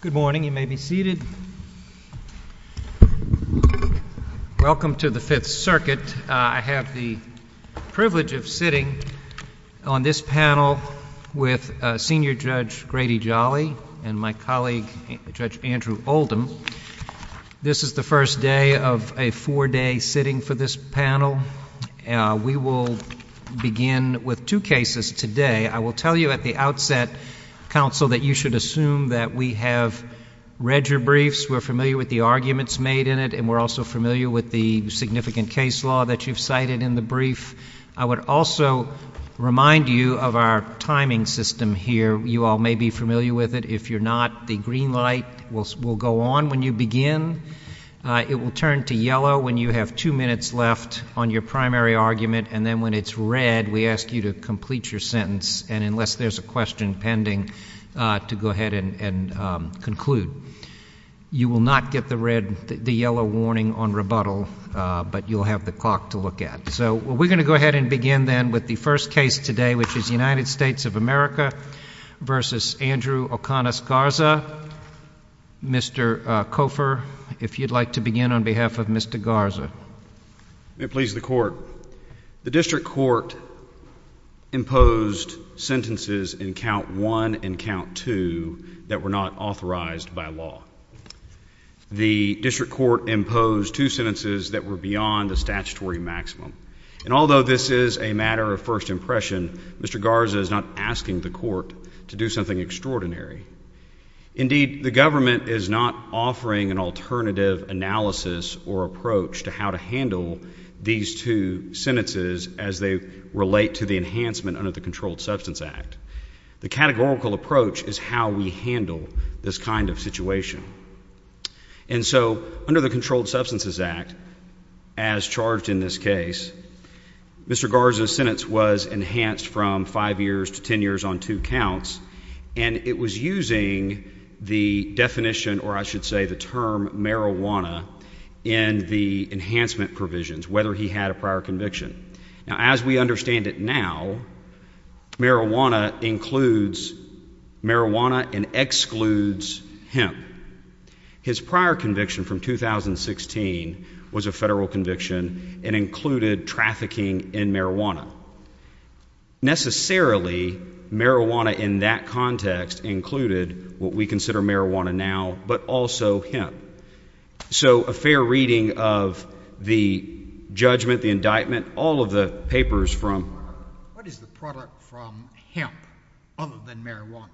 Good morning. You may be seated. Welcome to the Fifth Circuit. I have the privilege of sitting on this panel with Senior Judge Grady Jolly and my colleague Judge Andrew Oldham. This is the first day of a four-day sitting for this panel. We will begin with two cases today. I will tell you at the outset, counsel, that you should assume that we have read your briefs, we're familiar with the arguments made in it, and we're also familiar with the significant case law that you've cited in the brief. I would also remind you of our timing system here. You all may be familiar with it. If you're not, the green light will go on when you begin. It will turn to yellow when you have two minutes left on your primary argument, and then when it's red, we ask you to complete your sentence, and unless there's a question pending, to go ahead and conclude. You will not get the yellow warning on rebuttal, but you'll have the clock to look at. So we're going to go ahead and begin, then, with the first case today, which is United States of America v. Andrew O'Connor Garza. Mr. Cofer, if you'd like to begin on behalf of Mr. Garza. May it please the Court. The district court imposed sentences in count one and count two that were not authorized by law. The district court imposed two sentences that were beyond the statutory maximum, and although this is a matter of first impression, Mr. Garza is not asking the court to do something extraordinary. Indeed, the government is not offering an alternative analysis or approach to how to handle these two sentences as they relate to the enhancement under the Controlled Substance Act. The categorical approach is how we handle this kind of situation. And so under the Controlled Substances Act, as charged in this case, Mr. Garza's sentence was enhanced from five years to ten years on two counts, and it was using the definition, or I should say the term marijuana, in the enhancement provisions, whether he had a prior conviction. Now as we understand it now, marijuana includes marijuana and excludes hemp. His prior conviction from 2016 was a federal conviction and included trafficking in marijuana. Necessarily, marijuana in that context included what we consider marijuana now, but also hemp. So a fair reading of the judgment, the indictment, all of the papers from— What is the product from hemp other than marijuana?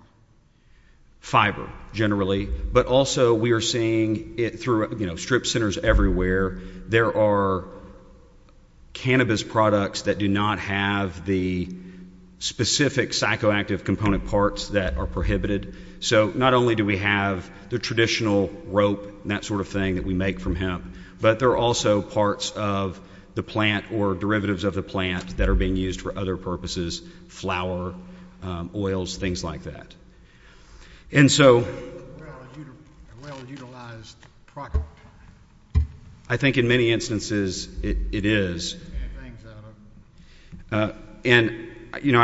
Fiber, generally, but also we are seeing it through, you know, strip centers everywhere. There are cannabis products that do not have the specific psychoactive component parts that are prohibited. So not only do we have the traditional rope and that sort of thing that we make from hemp, but there are also parts of the plant or derivatives of the plant that are being used for other purposes, flour, oils, things like that. And so— A well-utilized product. I think in many instances it is. And, you know,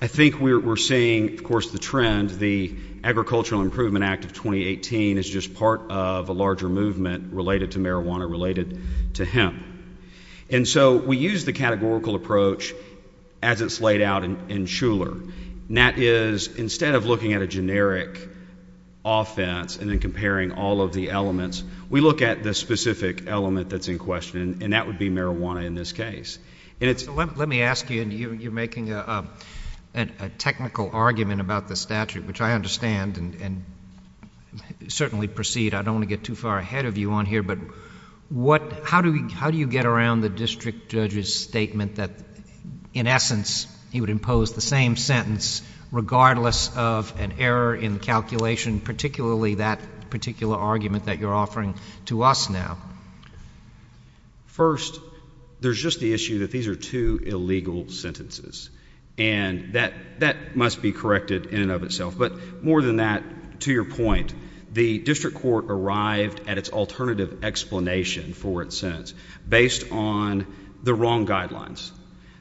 I think we're seeing, of course, the trend, the Agricultural Improvement Act of 2018 is just part of a larger movement related to marijuana, related to hemp. And so we use the categorical approach as it's laid out in Shuler, and that is instead of looking at a generic offense and then comparing all of the elements, we look at the specific element that's in question, and that would be marijuana in this case. Let me ask you, and you're making a technical argument about the statute, which I understand and certainly precede, I don't want to get too far ahead of you on here, but how do you get around the district judge's statement that in essence he would impose the same sentence regardless of an error in calculation, particularly that particular argument that you're offering to us now? First, there's just the issue that these are two illegal sentences, and that must be corrected in and of itself. But more than that, to your point, the district court arrived at its alternative explanation for its sentence based on the wrong guidelines.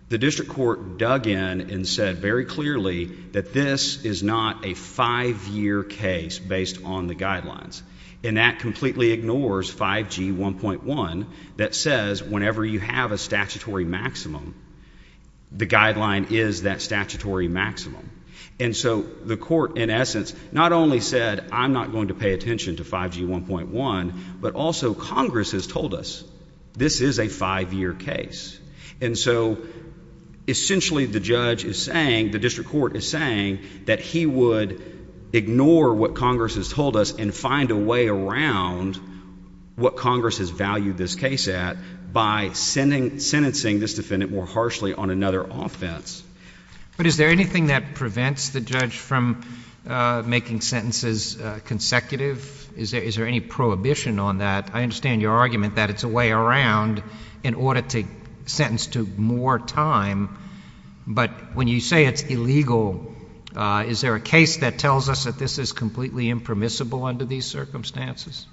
The district court dug in and said very clearly that this is not a five-year case based on the guidelines, and that completely ignores 5G 1.1 that says whenever you have a statutory maximum, the guideline is that statutory maximum. And so the court in essence not only said, I'm not going to pay attention to 5G 1.1, but also Congress has told us this is a five-year case. And so essentially the judge is saying, the district court is saying that he would ignore what Congress has told us and find a way around what Congress has valued this case at by sentencing this defendant more harshly on another offense. But is there anything that prevents the judge from making sentences consecutive? Is there any prohibition on that? I understand your argument that it's a way around in order to sentence to more time. But when you say it's illegal, is there a case that tells us that this is completely impermissible under these circumstances?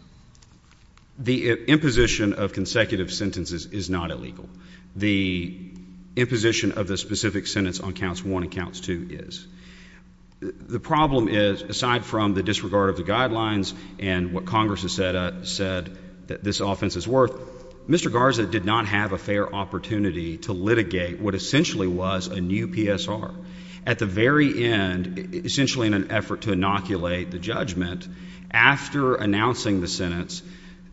The imposition of consecutive sentences is not illegal. The imposition of the specific sentence on counts one and counts two is. The problem is, aside from the disregard of the guidelines and what Congress has said that this offense is worth, Mr. Garza did not have a fair opportunity to litigate what essentially was a new PSR. At the very end, essentially in an effort to inoculate the judgment, after announcing the sentence,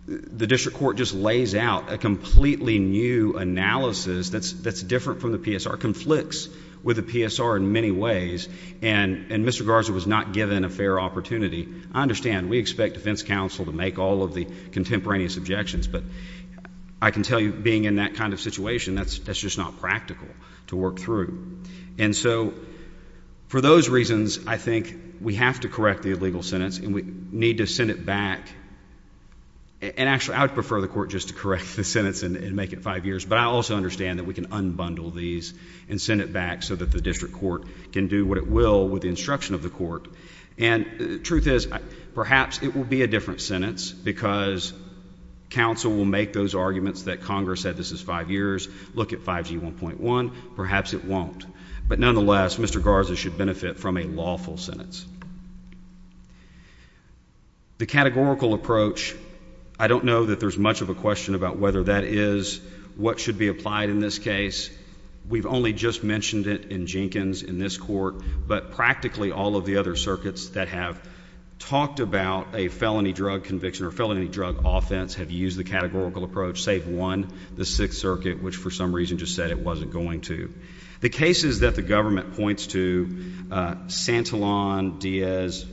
the district court just lays out a completely new analysis that's different from the PSR, conflicts with the PSR in many ways, and Mr. Garza was not given a fair opportunity. I understand, we expect defense counsel to make all of the contemporaneous objections, but I can tell you being in that kind of situation, that's just not practical to work through. And so, for those reasons, I think we have to correct the illegal sentence and we need to send it back, and actually I would prefer the court just to correct the sentence and make it five years, but I also understand that we can unbundle these and send it back so that the district court can do what it will with the instruction of the court. And the truth is, perhaps it will be a different sentence because counsel will make those arguments that Congress said this is five years, look at 5G 1.1, perhaps it won't. But nonetheless, Mr. Garza should benefit from a lawful sentence. The categorical approach, I don't know that there's much of a question about whether that is what should be applied in this case. We've only just mentioned it in Jenkins, in this court, but practically all of the other circuits that have talked about a felony drug conviction or felony drug offense have used the categorical approach, save one, the Sixth Circuit, which for some reason just said it wasn't going to. The cases that the government points to, Santillan, Diaz,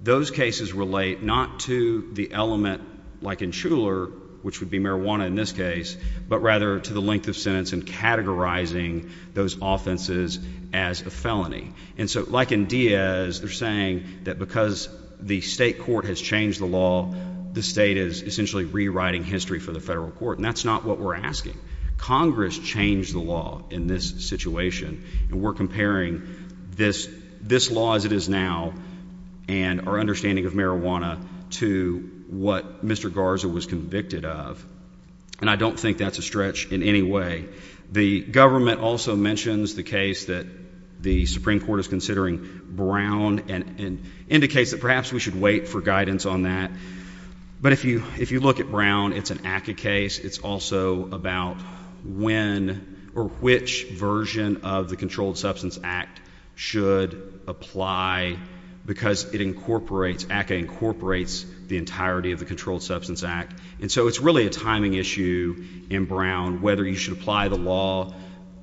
those cases relate not to the element like in Shuler, which would be marijuana in this case, but rather to the length of sentence and categorizing those offenses as a felony. And so like in Diaz, they're saying that because the state court has changed the law, the state is essentially rewriting history for the federal court, and that's not what we're asking. Congress changed the law in this situation, and we're comparing this law as it is now and our understanding of marijuana to what Mr. Garza was convicted of. And I don't think that's a stretch in any way. The government also mentions the case that the Supreme Court is considering Brown and indicates that perhaps we should wait for guidance on that. But if you look at Brown, it's an ACCA case. It's also about when or which version of the Controlled Substance Act should apply because it incorporates, ACCA incorporates the entirety of the Controlled Substance Act. And so it's really a timing issue in Brown, whether you should apply the law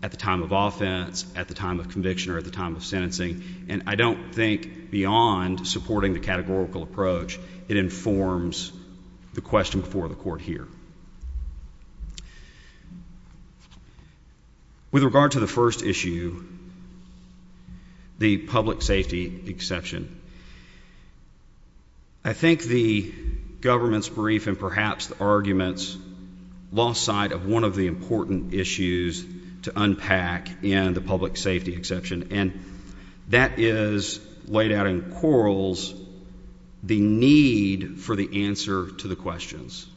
at the time of offense, at the time of conviction, or at the time of sentencing. And I don't think beyond supporting the categorical approach, it informs the question before the court here. With regard to the first issue, the public safety exception, I think the government's brief and perhaps the argument's lost sight of one of the important issues to unpack in the public safety exception. And that is laid out in quarrels, the need for the answer to the questions.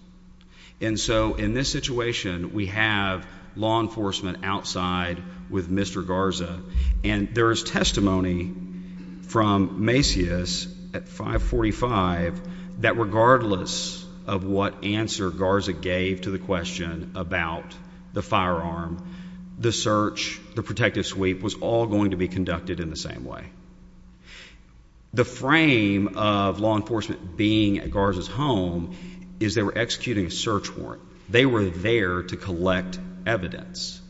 And so in this situation, we have law enforcement outside with Mr. Garza, and there is testimony from Macias at 545 that regardless of what answer Garza gave to the question about the firearm, the search, the protective sweep was all going to be conducted in the same way. The frame of law enforcement being at Garza's home is they were executing a search warrant. They were there to collect evidence.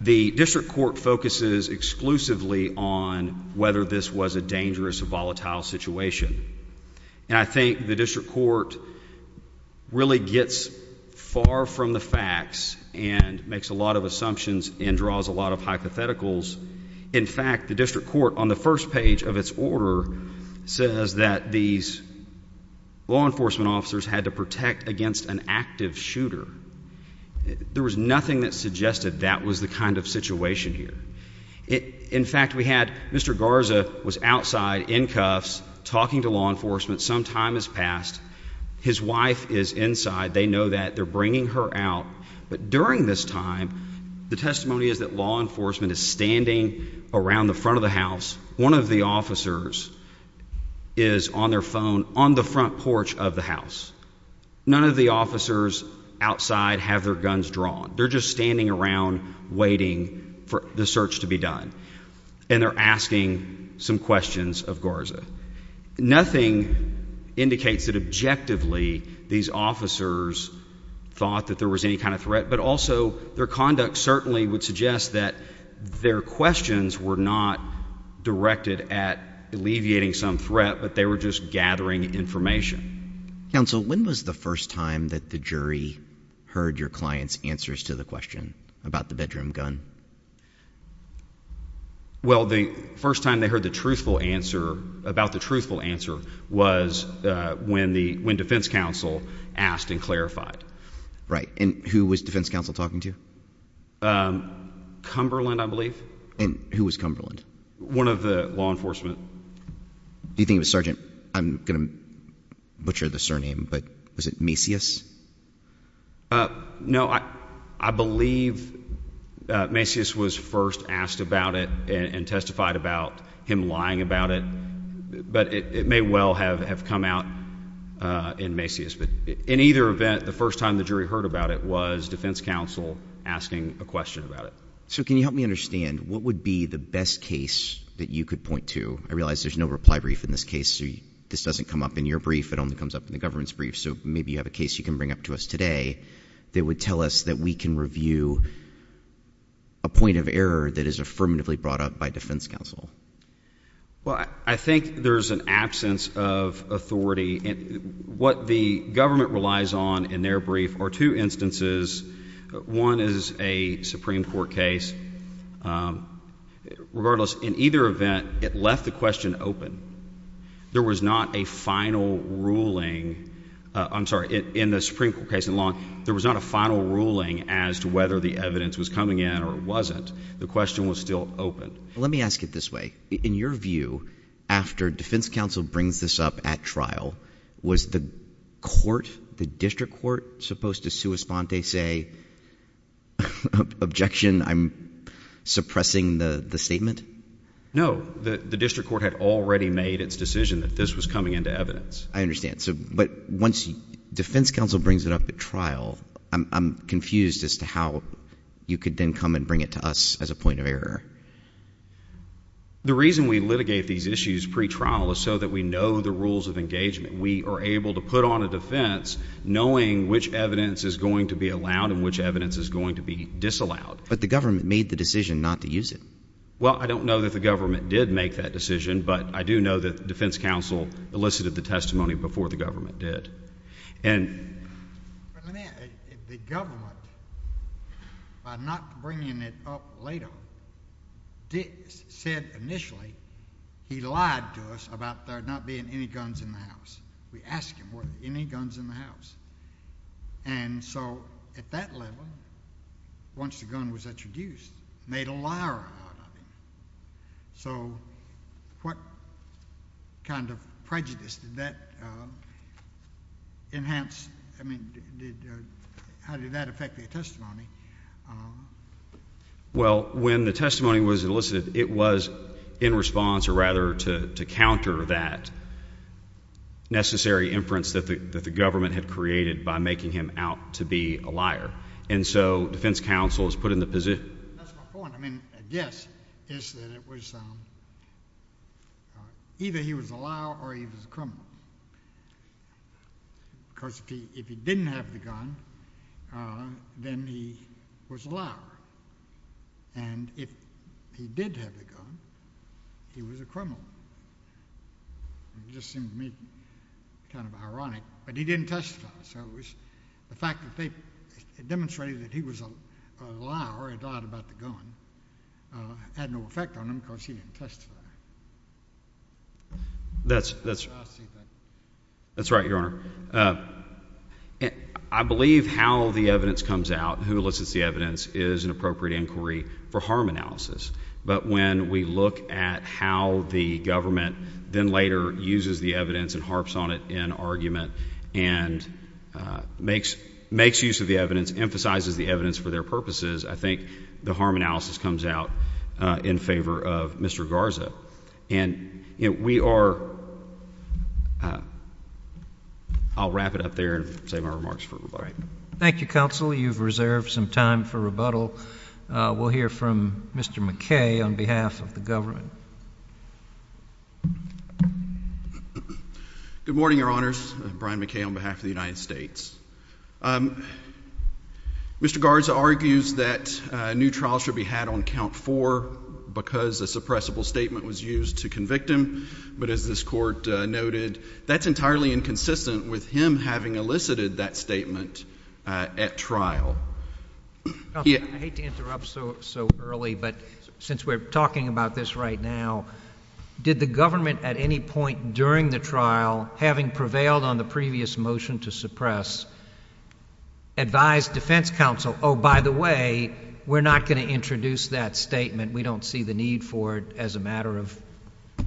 The district court focuses exclusively on whether this was a dangerous or volatile situation. And I think the district court really gets far from the facts and makes a lot of assumptions and draws a lot of hypotheticals. In fact, the district court on the first page of its order says that these law enforcement officers had to protect against an active shooter. There was nothing that suggested that was the kind of situation here. In fact, we had Mr. Garza was outside in cuffs talking to law enforcement. Some time has passed. His wife is inside. They know that. They're bringing her out. But during this time, the testimony is that law enforcement is standing around the front of the house. One of the officers is on their phone on the front porch of the house. None of the officers outside have their guns drawn. They're just standing around waiting for the search to be done. And they're asking some questions of Garza. Nothing indicates that objectively these officers thought that there was any kind of threat, but also their conduct certainly would suggest that their questions were not directed at alleviating some threat, but they were just gathering information. Counsel, when was the first time that the jury heard your client's answers to the question about the bedroom gun? Well, the first time they heard the truthful answer, about the truthful answer, was when the, when defense counsel asked and clarified. Right. And who was defense counsel talking to? Cumberland, I believe. And who was Cumberland? One of the law enforcement. Do you think it was Sergeant, I'm going to butcher the surname, but was it Macias? No, I believe Macias was first asked about it and testified about him lying about it, but it may well have come out in Macias, but in either event, the first time the jury heard about it was defense counsel asking a question about it. So can you help me understand, what would be the best case that you could point to? I realize there's no reply brief in this case, so this doesn't come up in your brief, it only comes up in the government's brief, so maybe you have a case you can bring up to us today that would tell us that we can review a point of error that is affirmatively brought up by defense counsel. Well, I think there's an absence of authority. What the government relies on in their brief are two instances. One is a Supreme Court case. Regardless, in either event, it left the question open. There was not a final ruling. I'm sorry, in the Supreme Court case in Long, there was not a final ruling as to whether the evidence was coming in or wasn't. The question was still open. Let me ask it this way. In your view, after defense counsel brings this up at trial, was the court, the district court, supposed to sua sponte, say, objection, I'm suppressing the statement? No. The district court had already made its decision that this was coming into evidence. I understand. But once defense counsel brings it up at trial, I'm confused as to how you could then come and bring it to us as a point of error. The reason we litigate these issues pre-trial is so that we know the rules of engagement. We are able to put on a defense knowing which evidence is going to be allowed and which evidence is going to be disallowed. But the government made the decision not to use it. Well, I don't know that the government did make that decision, but I do know that defense counsel elicited the testimony before the government did. The government, by not bringing it up later, said initially he lied to us about there not being any guns in the house. We asked him, were there any guns in the house? And so at that level, once the gun was introduced, made a liar out of him. So what kind of prejudice did that enhance? I mean, how did that affect the testimony? Well, when the testimony was elicited, it was in response or rather to counter that necessary inference that the government had created by making him out to be a liar. And so defense counsel is put in the position. That's my point. I mean, a guess is that it was either he was a liar or he was a criminal. Because if he didn't have the gun, then he was a liar. And if he did have the gun, he was a criminal. It just seemed to me kind of ironic, but he didn't testify. The fact that they demonstrated that he was a liar, he lied about the gun, had no effect on him because he didn't testify. That's right, Your Honor. I believe how the evidence comes out, who elicits the evidence, is an appropriate inquiry for harm analysis. But when we look at how the government then later uses the evidence and harps on it in argument and makes use of the evidence, emphasizes the evidence for their purposes, I think the harm analysis comes out in favor of Mr. Garza. I'll wrap it up there and save my remarks for rebuttal. Thank you, Counsel. You've reserved some time for rebuttal. We'll hear from Mr. McKay on behalf of the government. Good morning, Your Honors. I'm Brian McKay on behalf of the United States. Mr. Garza argues that a new trial should be had on Count 4 because a suppressible statement was used to convict him. But as this Court noted, that's entirely inconsistent with him having elicited that statement at trial. Counsel, I hate to interrupt so early, but since we're talking about this right now, did the government at any point during the trial, having prevailed on the previous motion to suppress, advise defense counsel, oh, by the way, we're not going to introduce that statement, we don't see the need for it as a matter of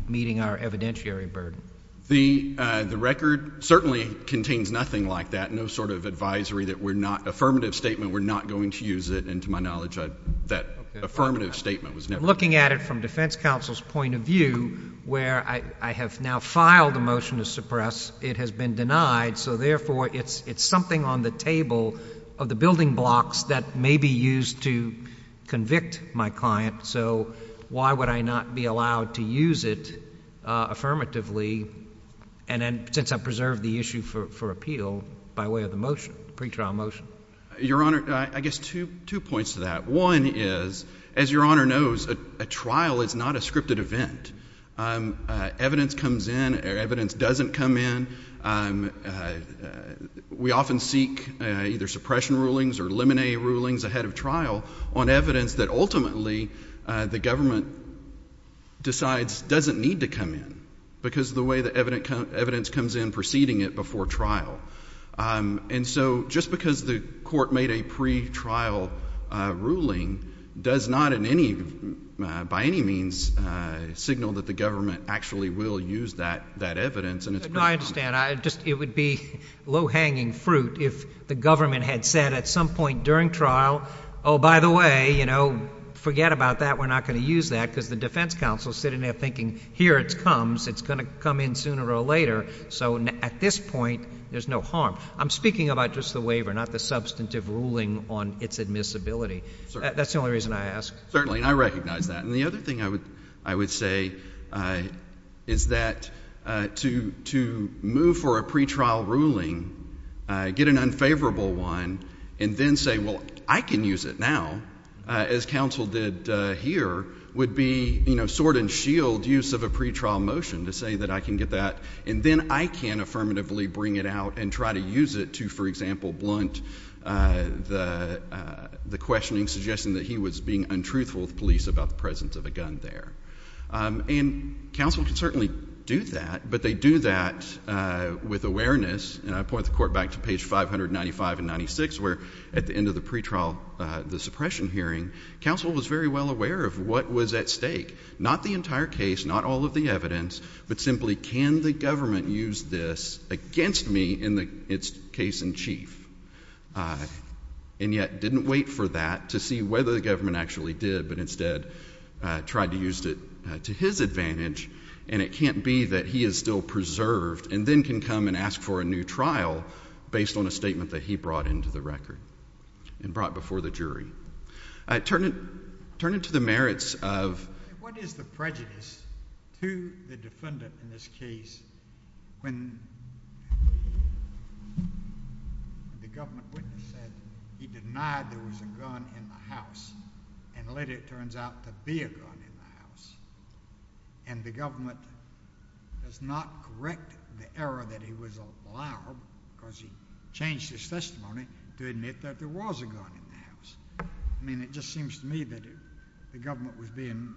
meeting our evidentiary burden? The record certainly contains nothing like that, affirmative statement, we're not going to use it, and to my knowledge that affirmative statement was never used. I'm looking at it from defense counsel's point of view where I have now filed a motion to suppress. It has been denied, so therefore it's something on the table of the building blocks that may be used to convict my client. So why would I not be allowed to use it affirmatively? And then since I preserved the issue for appeal by way of the motion, pretrial motion. Your Honor, I guess two points to that. One is, as Your Honor knows, a trial is not a scripted event. Evidence comes in, evidence doesn't come in. We often seek either suppression rulings or limine rulings ahead of trial on evidence that ultimately the government decides doesn't need to come in because of the way the evidence comes in preceding it before trial. And so just because the court made a pretrial ruling does not by any means signal that the government actually will use that evidence. I understand. It would be low-hanging fruit if the government had said at some point during trial, oh, by the way, forget about that. We're not going to use that because the defense counsel is sitting there thinking here it comes. It's going to come in sooner or later. So at this point, there's no harm. I'm speaking about just the waiver, not the substantive ruling on its admissibility. That's the only reason I asked. Certainly, and I recognize that. And the other thing I would say is that to move for a pretrial ruling, get an unfavorable one, and then say, well, I can use it now, as counsel did here, would be sword and shield use of a pretrial motion to say that I can get that, and then I can affirmatively bring it out and try to use it to, for example, blunt the questioning suggesting that he was being untruthful with police about the presence of a gun there. And counsel can certainly do that, but they do that with awareness. And I point the court back to page 595 and 96, where at the end of the pretrial, the suppression hearing, counsel was very well aware of what was at stake, not the entire case, not all of the evidence, but simply can the government use this against me in its case in chief? And yet didn't wait for that to see whether the government actually did, but instead tried to use it to his advantage, and it can't be that he is still preserved and then can come and ask for a new trial based on a statement that he brought into the record and brought before the jury. Turn it to the merits of— What is the prejudice to the defendant in this case when the government witness said he denied there was a gun in the house and later it turns out to be a gun in the house, and the government does not correct the error that he was a liar because he changed his testimony to admit that there was a gun in the house? I mean it just seems to me that the government was being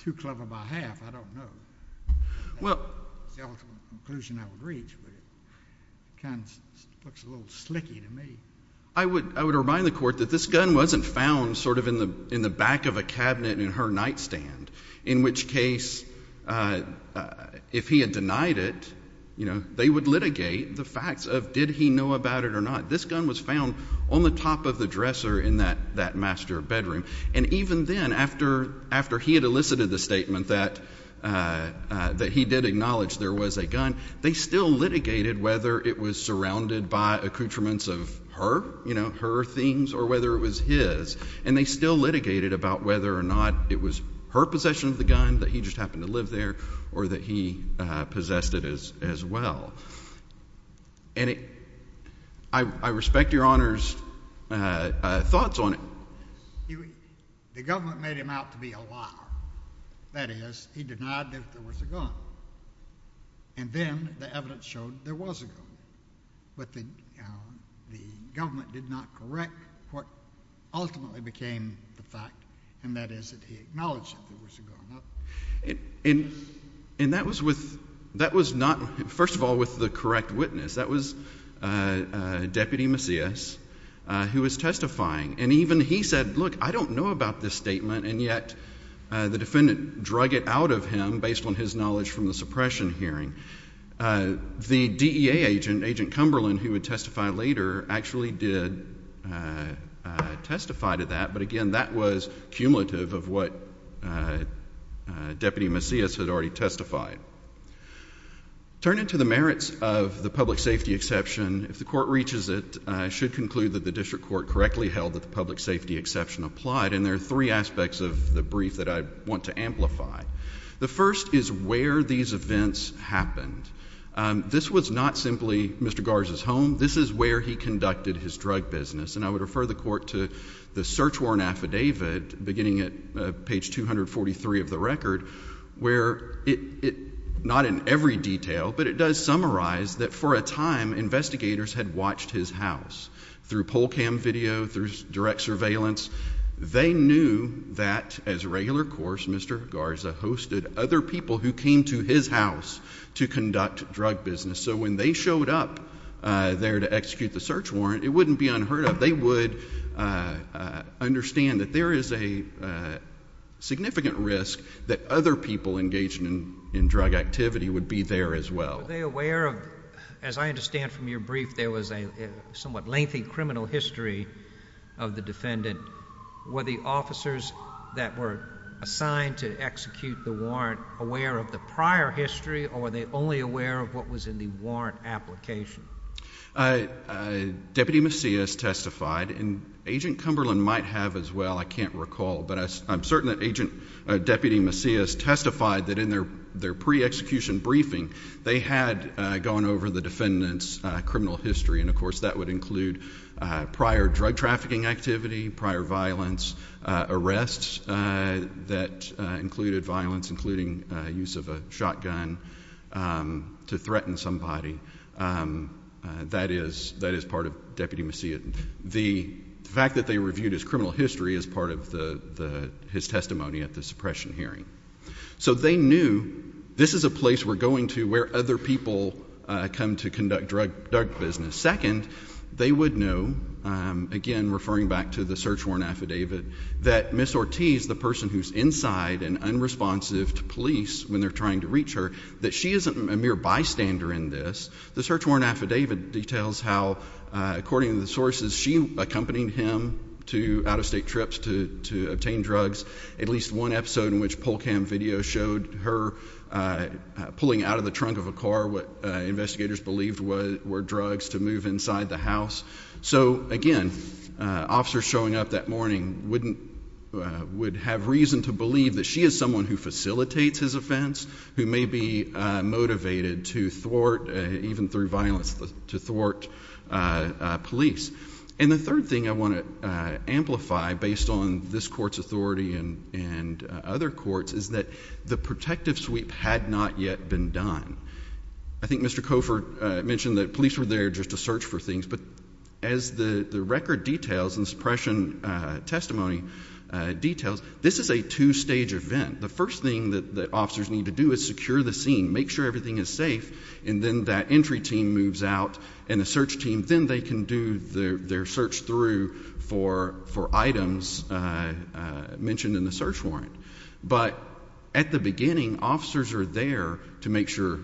too clever by half. I don't know. Well— That's the ultimate conclusion I would reach, but it kind of looks a little slicky to me. I would remind the court that this gun wasn't found sort of in the back of a cabinet in her nightstand, in which case if he had denied it, they would litigate the facts of did he know about it or not. This gun was found on the top of the dresser in that master bedroom, and even then after he had elicited the statement that he did acknowledge there was a gun, they still litigated whether it was surrounded by accoutrements of her, you know, her things or whether it was his, and they still litigated about whether or not it was her possession of the gun, that he just happened to live there, or that he possessed it as well. And I respect Your Honor's thoughts on it. The government made him out to be a liar. That is, he denied that there was a gun, and then the evidence showed there was a gun, but the government did not correct what ultimately became the fact, and that is that he acknowledged that there was a gun. And that was not, first of all, with the correct witness. That was Deputy Macias, who was testifying, and even he said, look, I don't know about this statement, and yet the defendant drug it out of him based on his knowledge from the suppression hearing. The DEA agent, Agent Cumberland, who would testify later, actually did testify to that, but again, that was cumulative of what Deputy Macias had already testified. Turning to the merits of the public safety exception, if the Court reaches it, I should conclude that the district court correctly held that the public safety exception applied, and there are three aspects of the brief that I want to amplify. The first is where these events happened. This was not simply Mr. Garza's home. This is where he conducted his drug business, and I would refer the Court to the search warrant affidavit beginning at page 243 of the record, where not in every detail, but it does summarize that for a time, investigators had watched his house. Through poll cam video, through direct surveillance, they knew that as regular course, Mr. Garza hosted other people who came to his house to conduct drug business. So when they showed up there to execute the search warrant, it wouldn't be unheard of. They would understand that there is a significant risk that other people engaged in drug activity would be there as well. Were they aware of, as I understand from your brief, there was a somewhat lengthy criminal history of the defendant? Were the officers that were assigned to execute the warrant aware of the prior history, or were they only aware of what was in the warrant application? Deputy Macias testified, and Agent Cumberland might have as well. I can't recall, but I'm certain that Agent Deputy Macias testified that in their pre-execution briefing, they had gone over the defendant's criminal history, and of course that would include prior drug trafficking activity, prior violence, arrests that included violence, including use of a shotgun to threaten somebody. That is part of Deputy Macias. The fact that they reviewed his criminal history is part of his testimony at the suppression hearing. So they knew this is a place we're going to where other people come to conduct drug business. Second, they would know, again referring back to the search warrant affidavit, that Ms. Ortiz, the person who's inside and unresponsive to police when they're trying to reach her, that she isn't a mere bystander in this. The search warrant affidavit details how, according to the sources, she accompanied him to out-of-state trips to obtain drugs. At least one episode in which poll cam video showed her pulling out of the trunk of a car what investigators believed were drugs to move inside the house. So, again, officers showing up that morning would have reason to believe that she is someone who facilitates his offense, who may be motivated to thwart, even through violence, to thwart police. And the third thing I want to amplify, based on this court's authority and other courts, is that the protective sweep had not yet been done. I think Mr. Cofer mentioned that police were there just to search for things, but as the record details and suppression testimony details, this is a two-stage event. The first thing that officers need to do is secure the scene, make sure everything is safe, and then that entry team moves out and the search team, then they can do their search through for items mentioned in the search warrant. But at the beginning, officers are there to make sure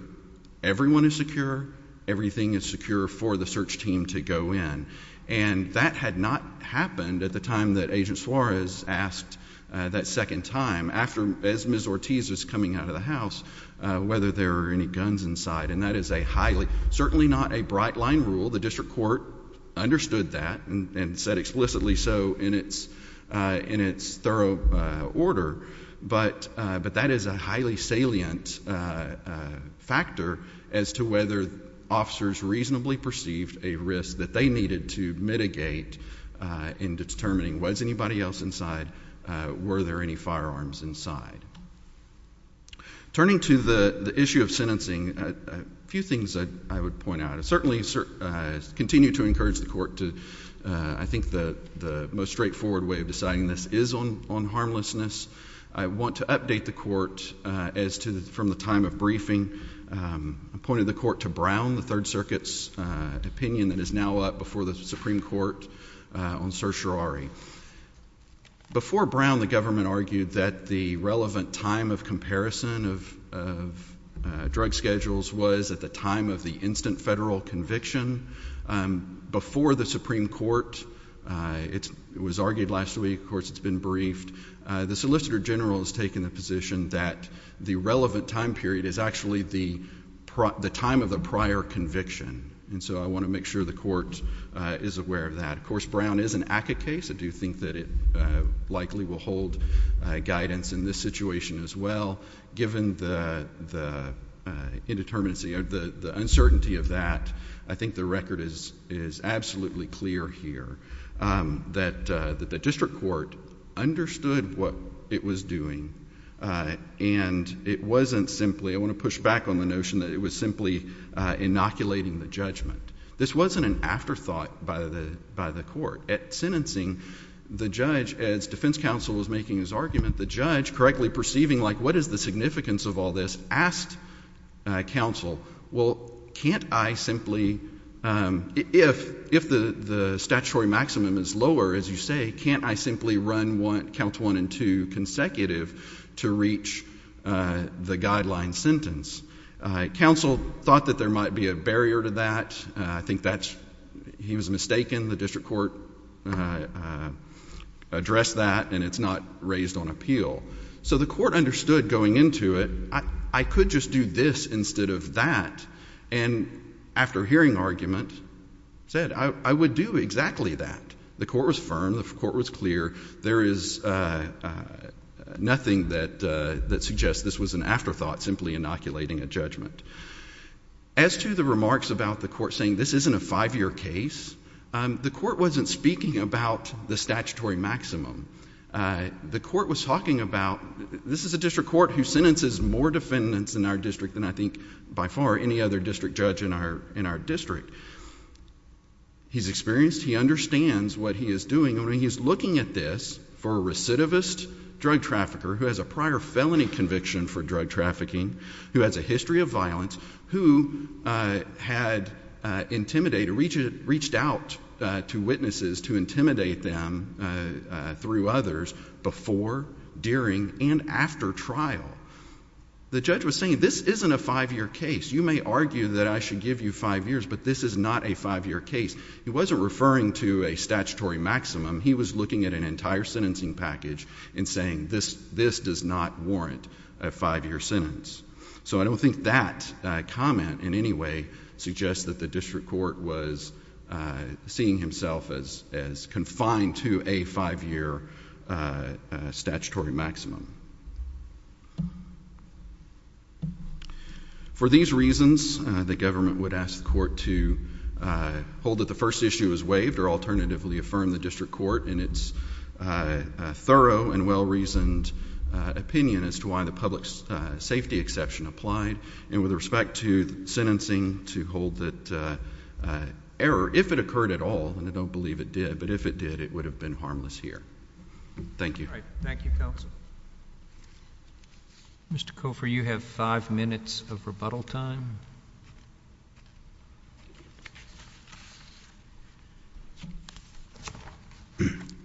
everyone is secure, everything is secure for the search team to go in. And that had not happened at the time that Agent Suarez asked that second time, as Ms. Ortiz was coming out of the house, whether there were any guns inside. And that is certainly not a bright-line rule. The district court understood that and said explicitly so in its thorough order. But that is a highly salient factor as to whether officers reasonably perceived a risk that they needed to mitigate in determining was anybody else inside, were there any firearms inside. Turning to the issue of sentencing, a few things I would point out. I certainly continue to encourage the court to, I think the most straightforward way of deciding this is on harmlessness. I want to update the court as to, from the time of briefing, I pointed the court to Brown, the Third Circuit's opinion that is now up before the Supreme Court on certiorari. Before Brown, the government argued that the relevant time of comparison of drug schedules was at the time of the instant federal conviction. Before the Supreme Court, it was argued last week, of course it's been briefed, the Solicitor General has taken the position that the relevant time period is actually the time of the prior conviction. And so I want to make sure the court is aware of that. Of course, Brown is an ACCA case. I do think that it likely will hold guidance in this situation as well. Given the indeterminacy, the uncertainty of that, I think the record is absolutely clear here. That the district court understood what it was doing and it wasn't simply, I want to push back on the notion that it was simply inoculating the judgment. This wasn't an afterthought by the court. At sentencing, the judge, as defense counsel was making his argument, the judge, correctly perceiving like what is the significance of all this, asked counsel, well, can't I simply, if the statutory maximum is lower, as you say, can't I simply run count one and two consecutive to reach the guideline sentence? Counsel thought that there might be a barrier to that. I think he was mistaken. The district court addressed that and it's not raised on appeal. So the court understood going into it, I could just do this instead of that, and after hearing argument, said I would do exactly that. The court was firm. The court was clear. There is nothing that suggests this was an afterthought, simply inoculating a judgment. As to the remarks about the court saying this isn't a five-year case, the court wasn't speaking about the statutory maximum. The court was talking about this is a district court who sentences more defendants in our district than I think by far any other district judge in our district. He's experienced. He understands what he is doing. He's looking at this for a recidivist drug trafficker who has a prior felony conviction for drug trafficking, who has a history of violence, who had intimidated, reached out to witnesses to intimidate them through others before, during, and after trial. The judge was saying this isn't a five-year case. You may argue that I should give you five years, but this is not a five-year case. He wasn't referring to a statutory maximum. He was looking at an entire sentencing package and saying this does not warrant a five-year sentence. So I don't think that comment in any way suggests that the district court was seeing himself as confined to a five-year statutory maximum. For these reasons, the government would ask the court to hold that the first issue is waived or alternatively affirm the district court in its thorough and well-reasoned opinion as to why the public safety exception applied. And with respect to sentencing to hold that error, if it occurred at all, and I don't believe it did, but if it did, it would have been harmless here. Thank you. Thank you, counsel. Mr. Cofer, you have five minutes of rebuttal time.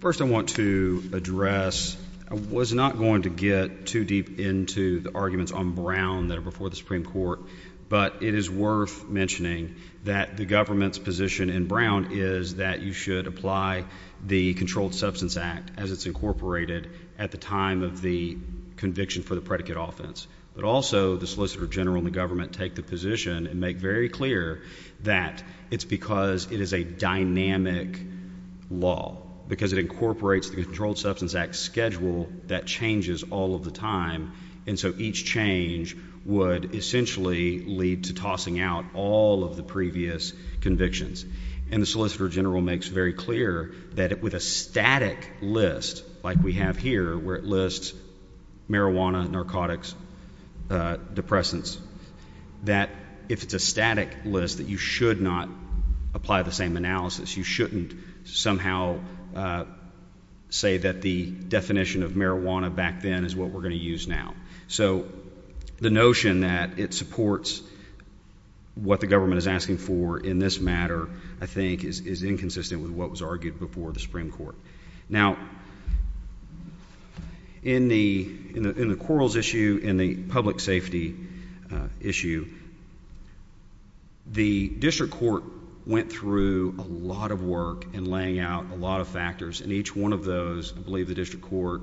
First I want to address, I was not going to get too deep into the arguments on Brown that are before the Supreme Court, but it is worth mentioning that the government's position in Brown is that you should apply the Controlled Substance Act as it's incorporated at the time of the conviction for the predicate offense. But also the Solicitor General and the government take the position and make very clear that it's because it is a dynamic law, because it incorporates the Controlled Substance Act schedule that changes all of the time, and so each change would essentially lead to tossing out all of the previous convictions. And the Solicitor General makes very clear that with a static list like we have here where it lists marijuana, narcotics, depressants, that if it's a static list that you should not apply the same analysis. You shouldn't somehow say that the definition of marijuana back then is what we're going to use now. So the notion that it supports what the government is asking for in this matter, I think, is inconsistent with what was argued before the Supreme Court. Now, in the quarrels issue, in the public safety issue, the district court went through a lot of work in laying out a lot of factors, and each one of those, I believe the district court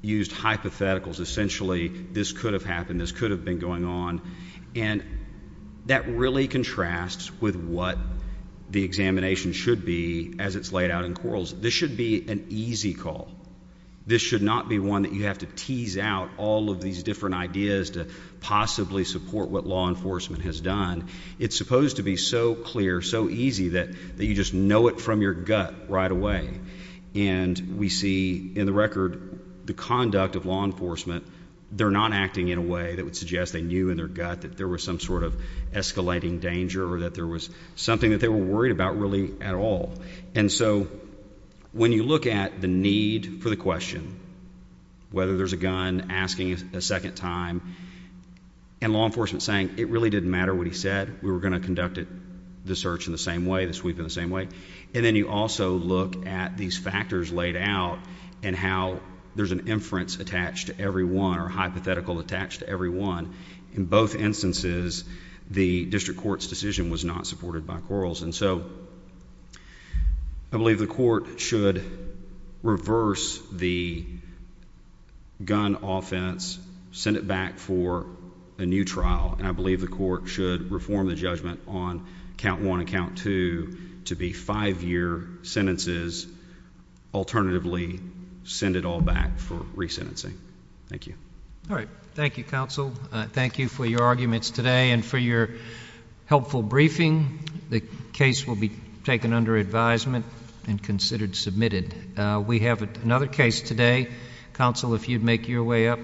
used hypotheticals. Essentially, this could have happened. This could have been going on. And that really contrasts with what the examination should be as it's laid out in quarrels. This should be an easy call. This should not be one that you have to tease out all of these different ideas to possibly support what law enforcement has done. It's supposed to be so clear, so easy that you just know it from your gut right away. And we see in the record the conduct of law enforcement. They're not acting in a way that would suggest they knew in their gut that there was some sort of escalating danger or that there was something that they were worried about really at all. And so when you look at the need for the question, whether there's a gun, asking a second time, and law enforcement saying, it really didn't matter what he said. We were going to conduct the search in the same way, the sweep in the same way. And then you also look at these factors laid out and how there's an inference attached to every one or a hypothetical attached to every one. In both instances, the district court's decision was not supported by quarrels. And so I believe the court should reverse the gun offense, send it back for a new trial, and I believe the court should reform the judgment on count one and count two to be five-year sentences. Alternatively, send it all back for resentencing. Thank you. All right. Thank you, counsel. Thank you for your arguments today and for your helpful briefing. The case will be taken under advisement and considered submitted. We have another case today. Counsel, if you'd make your way up.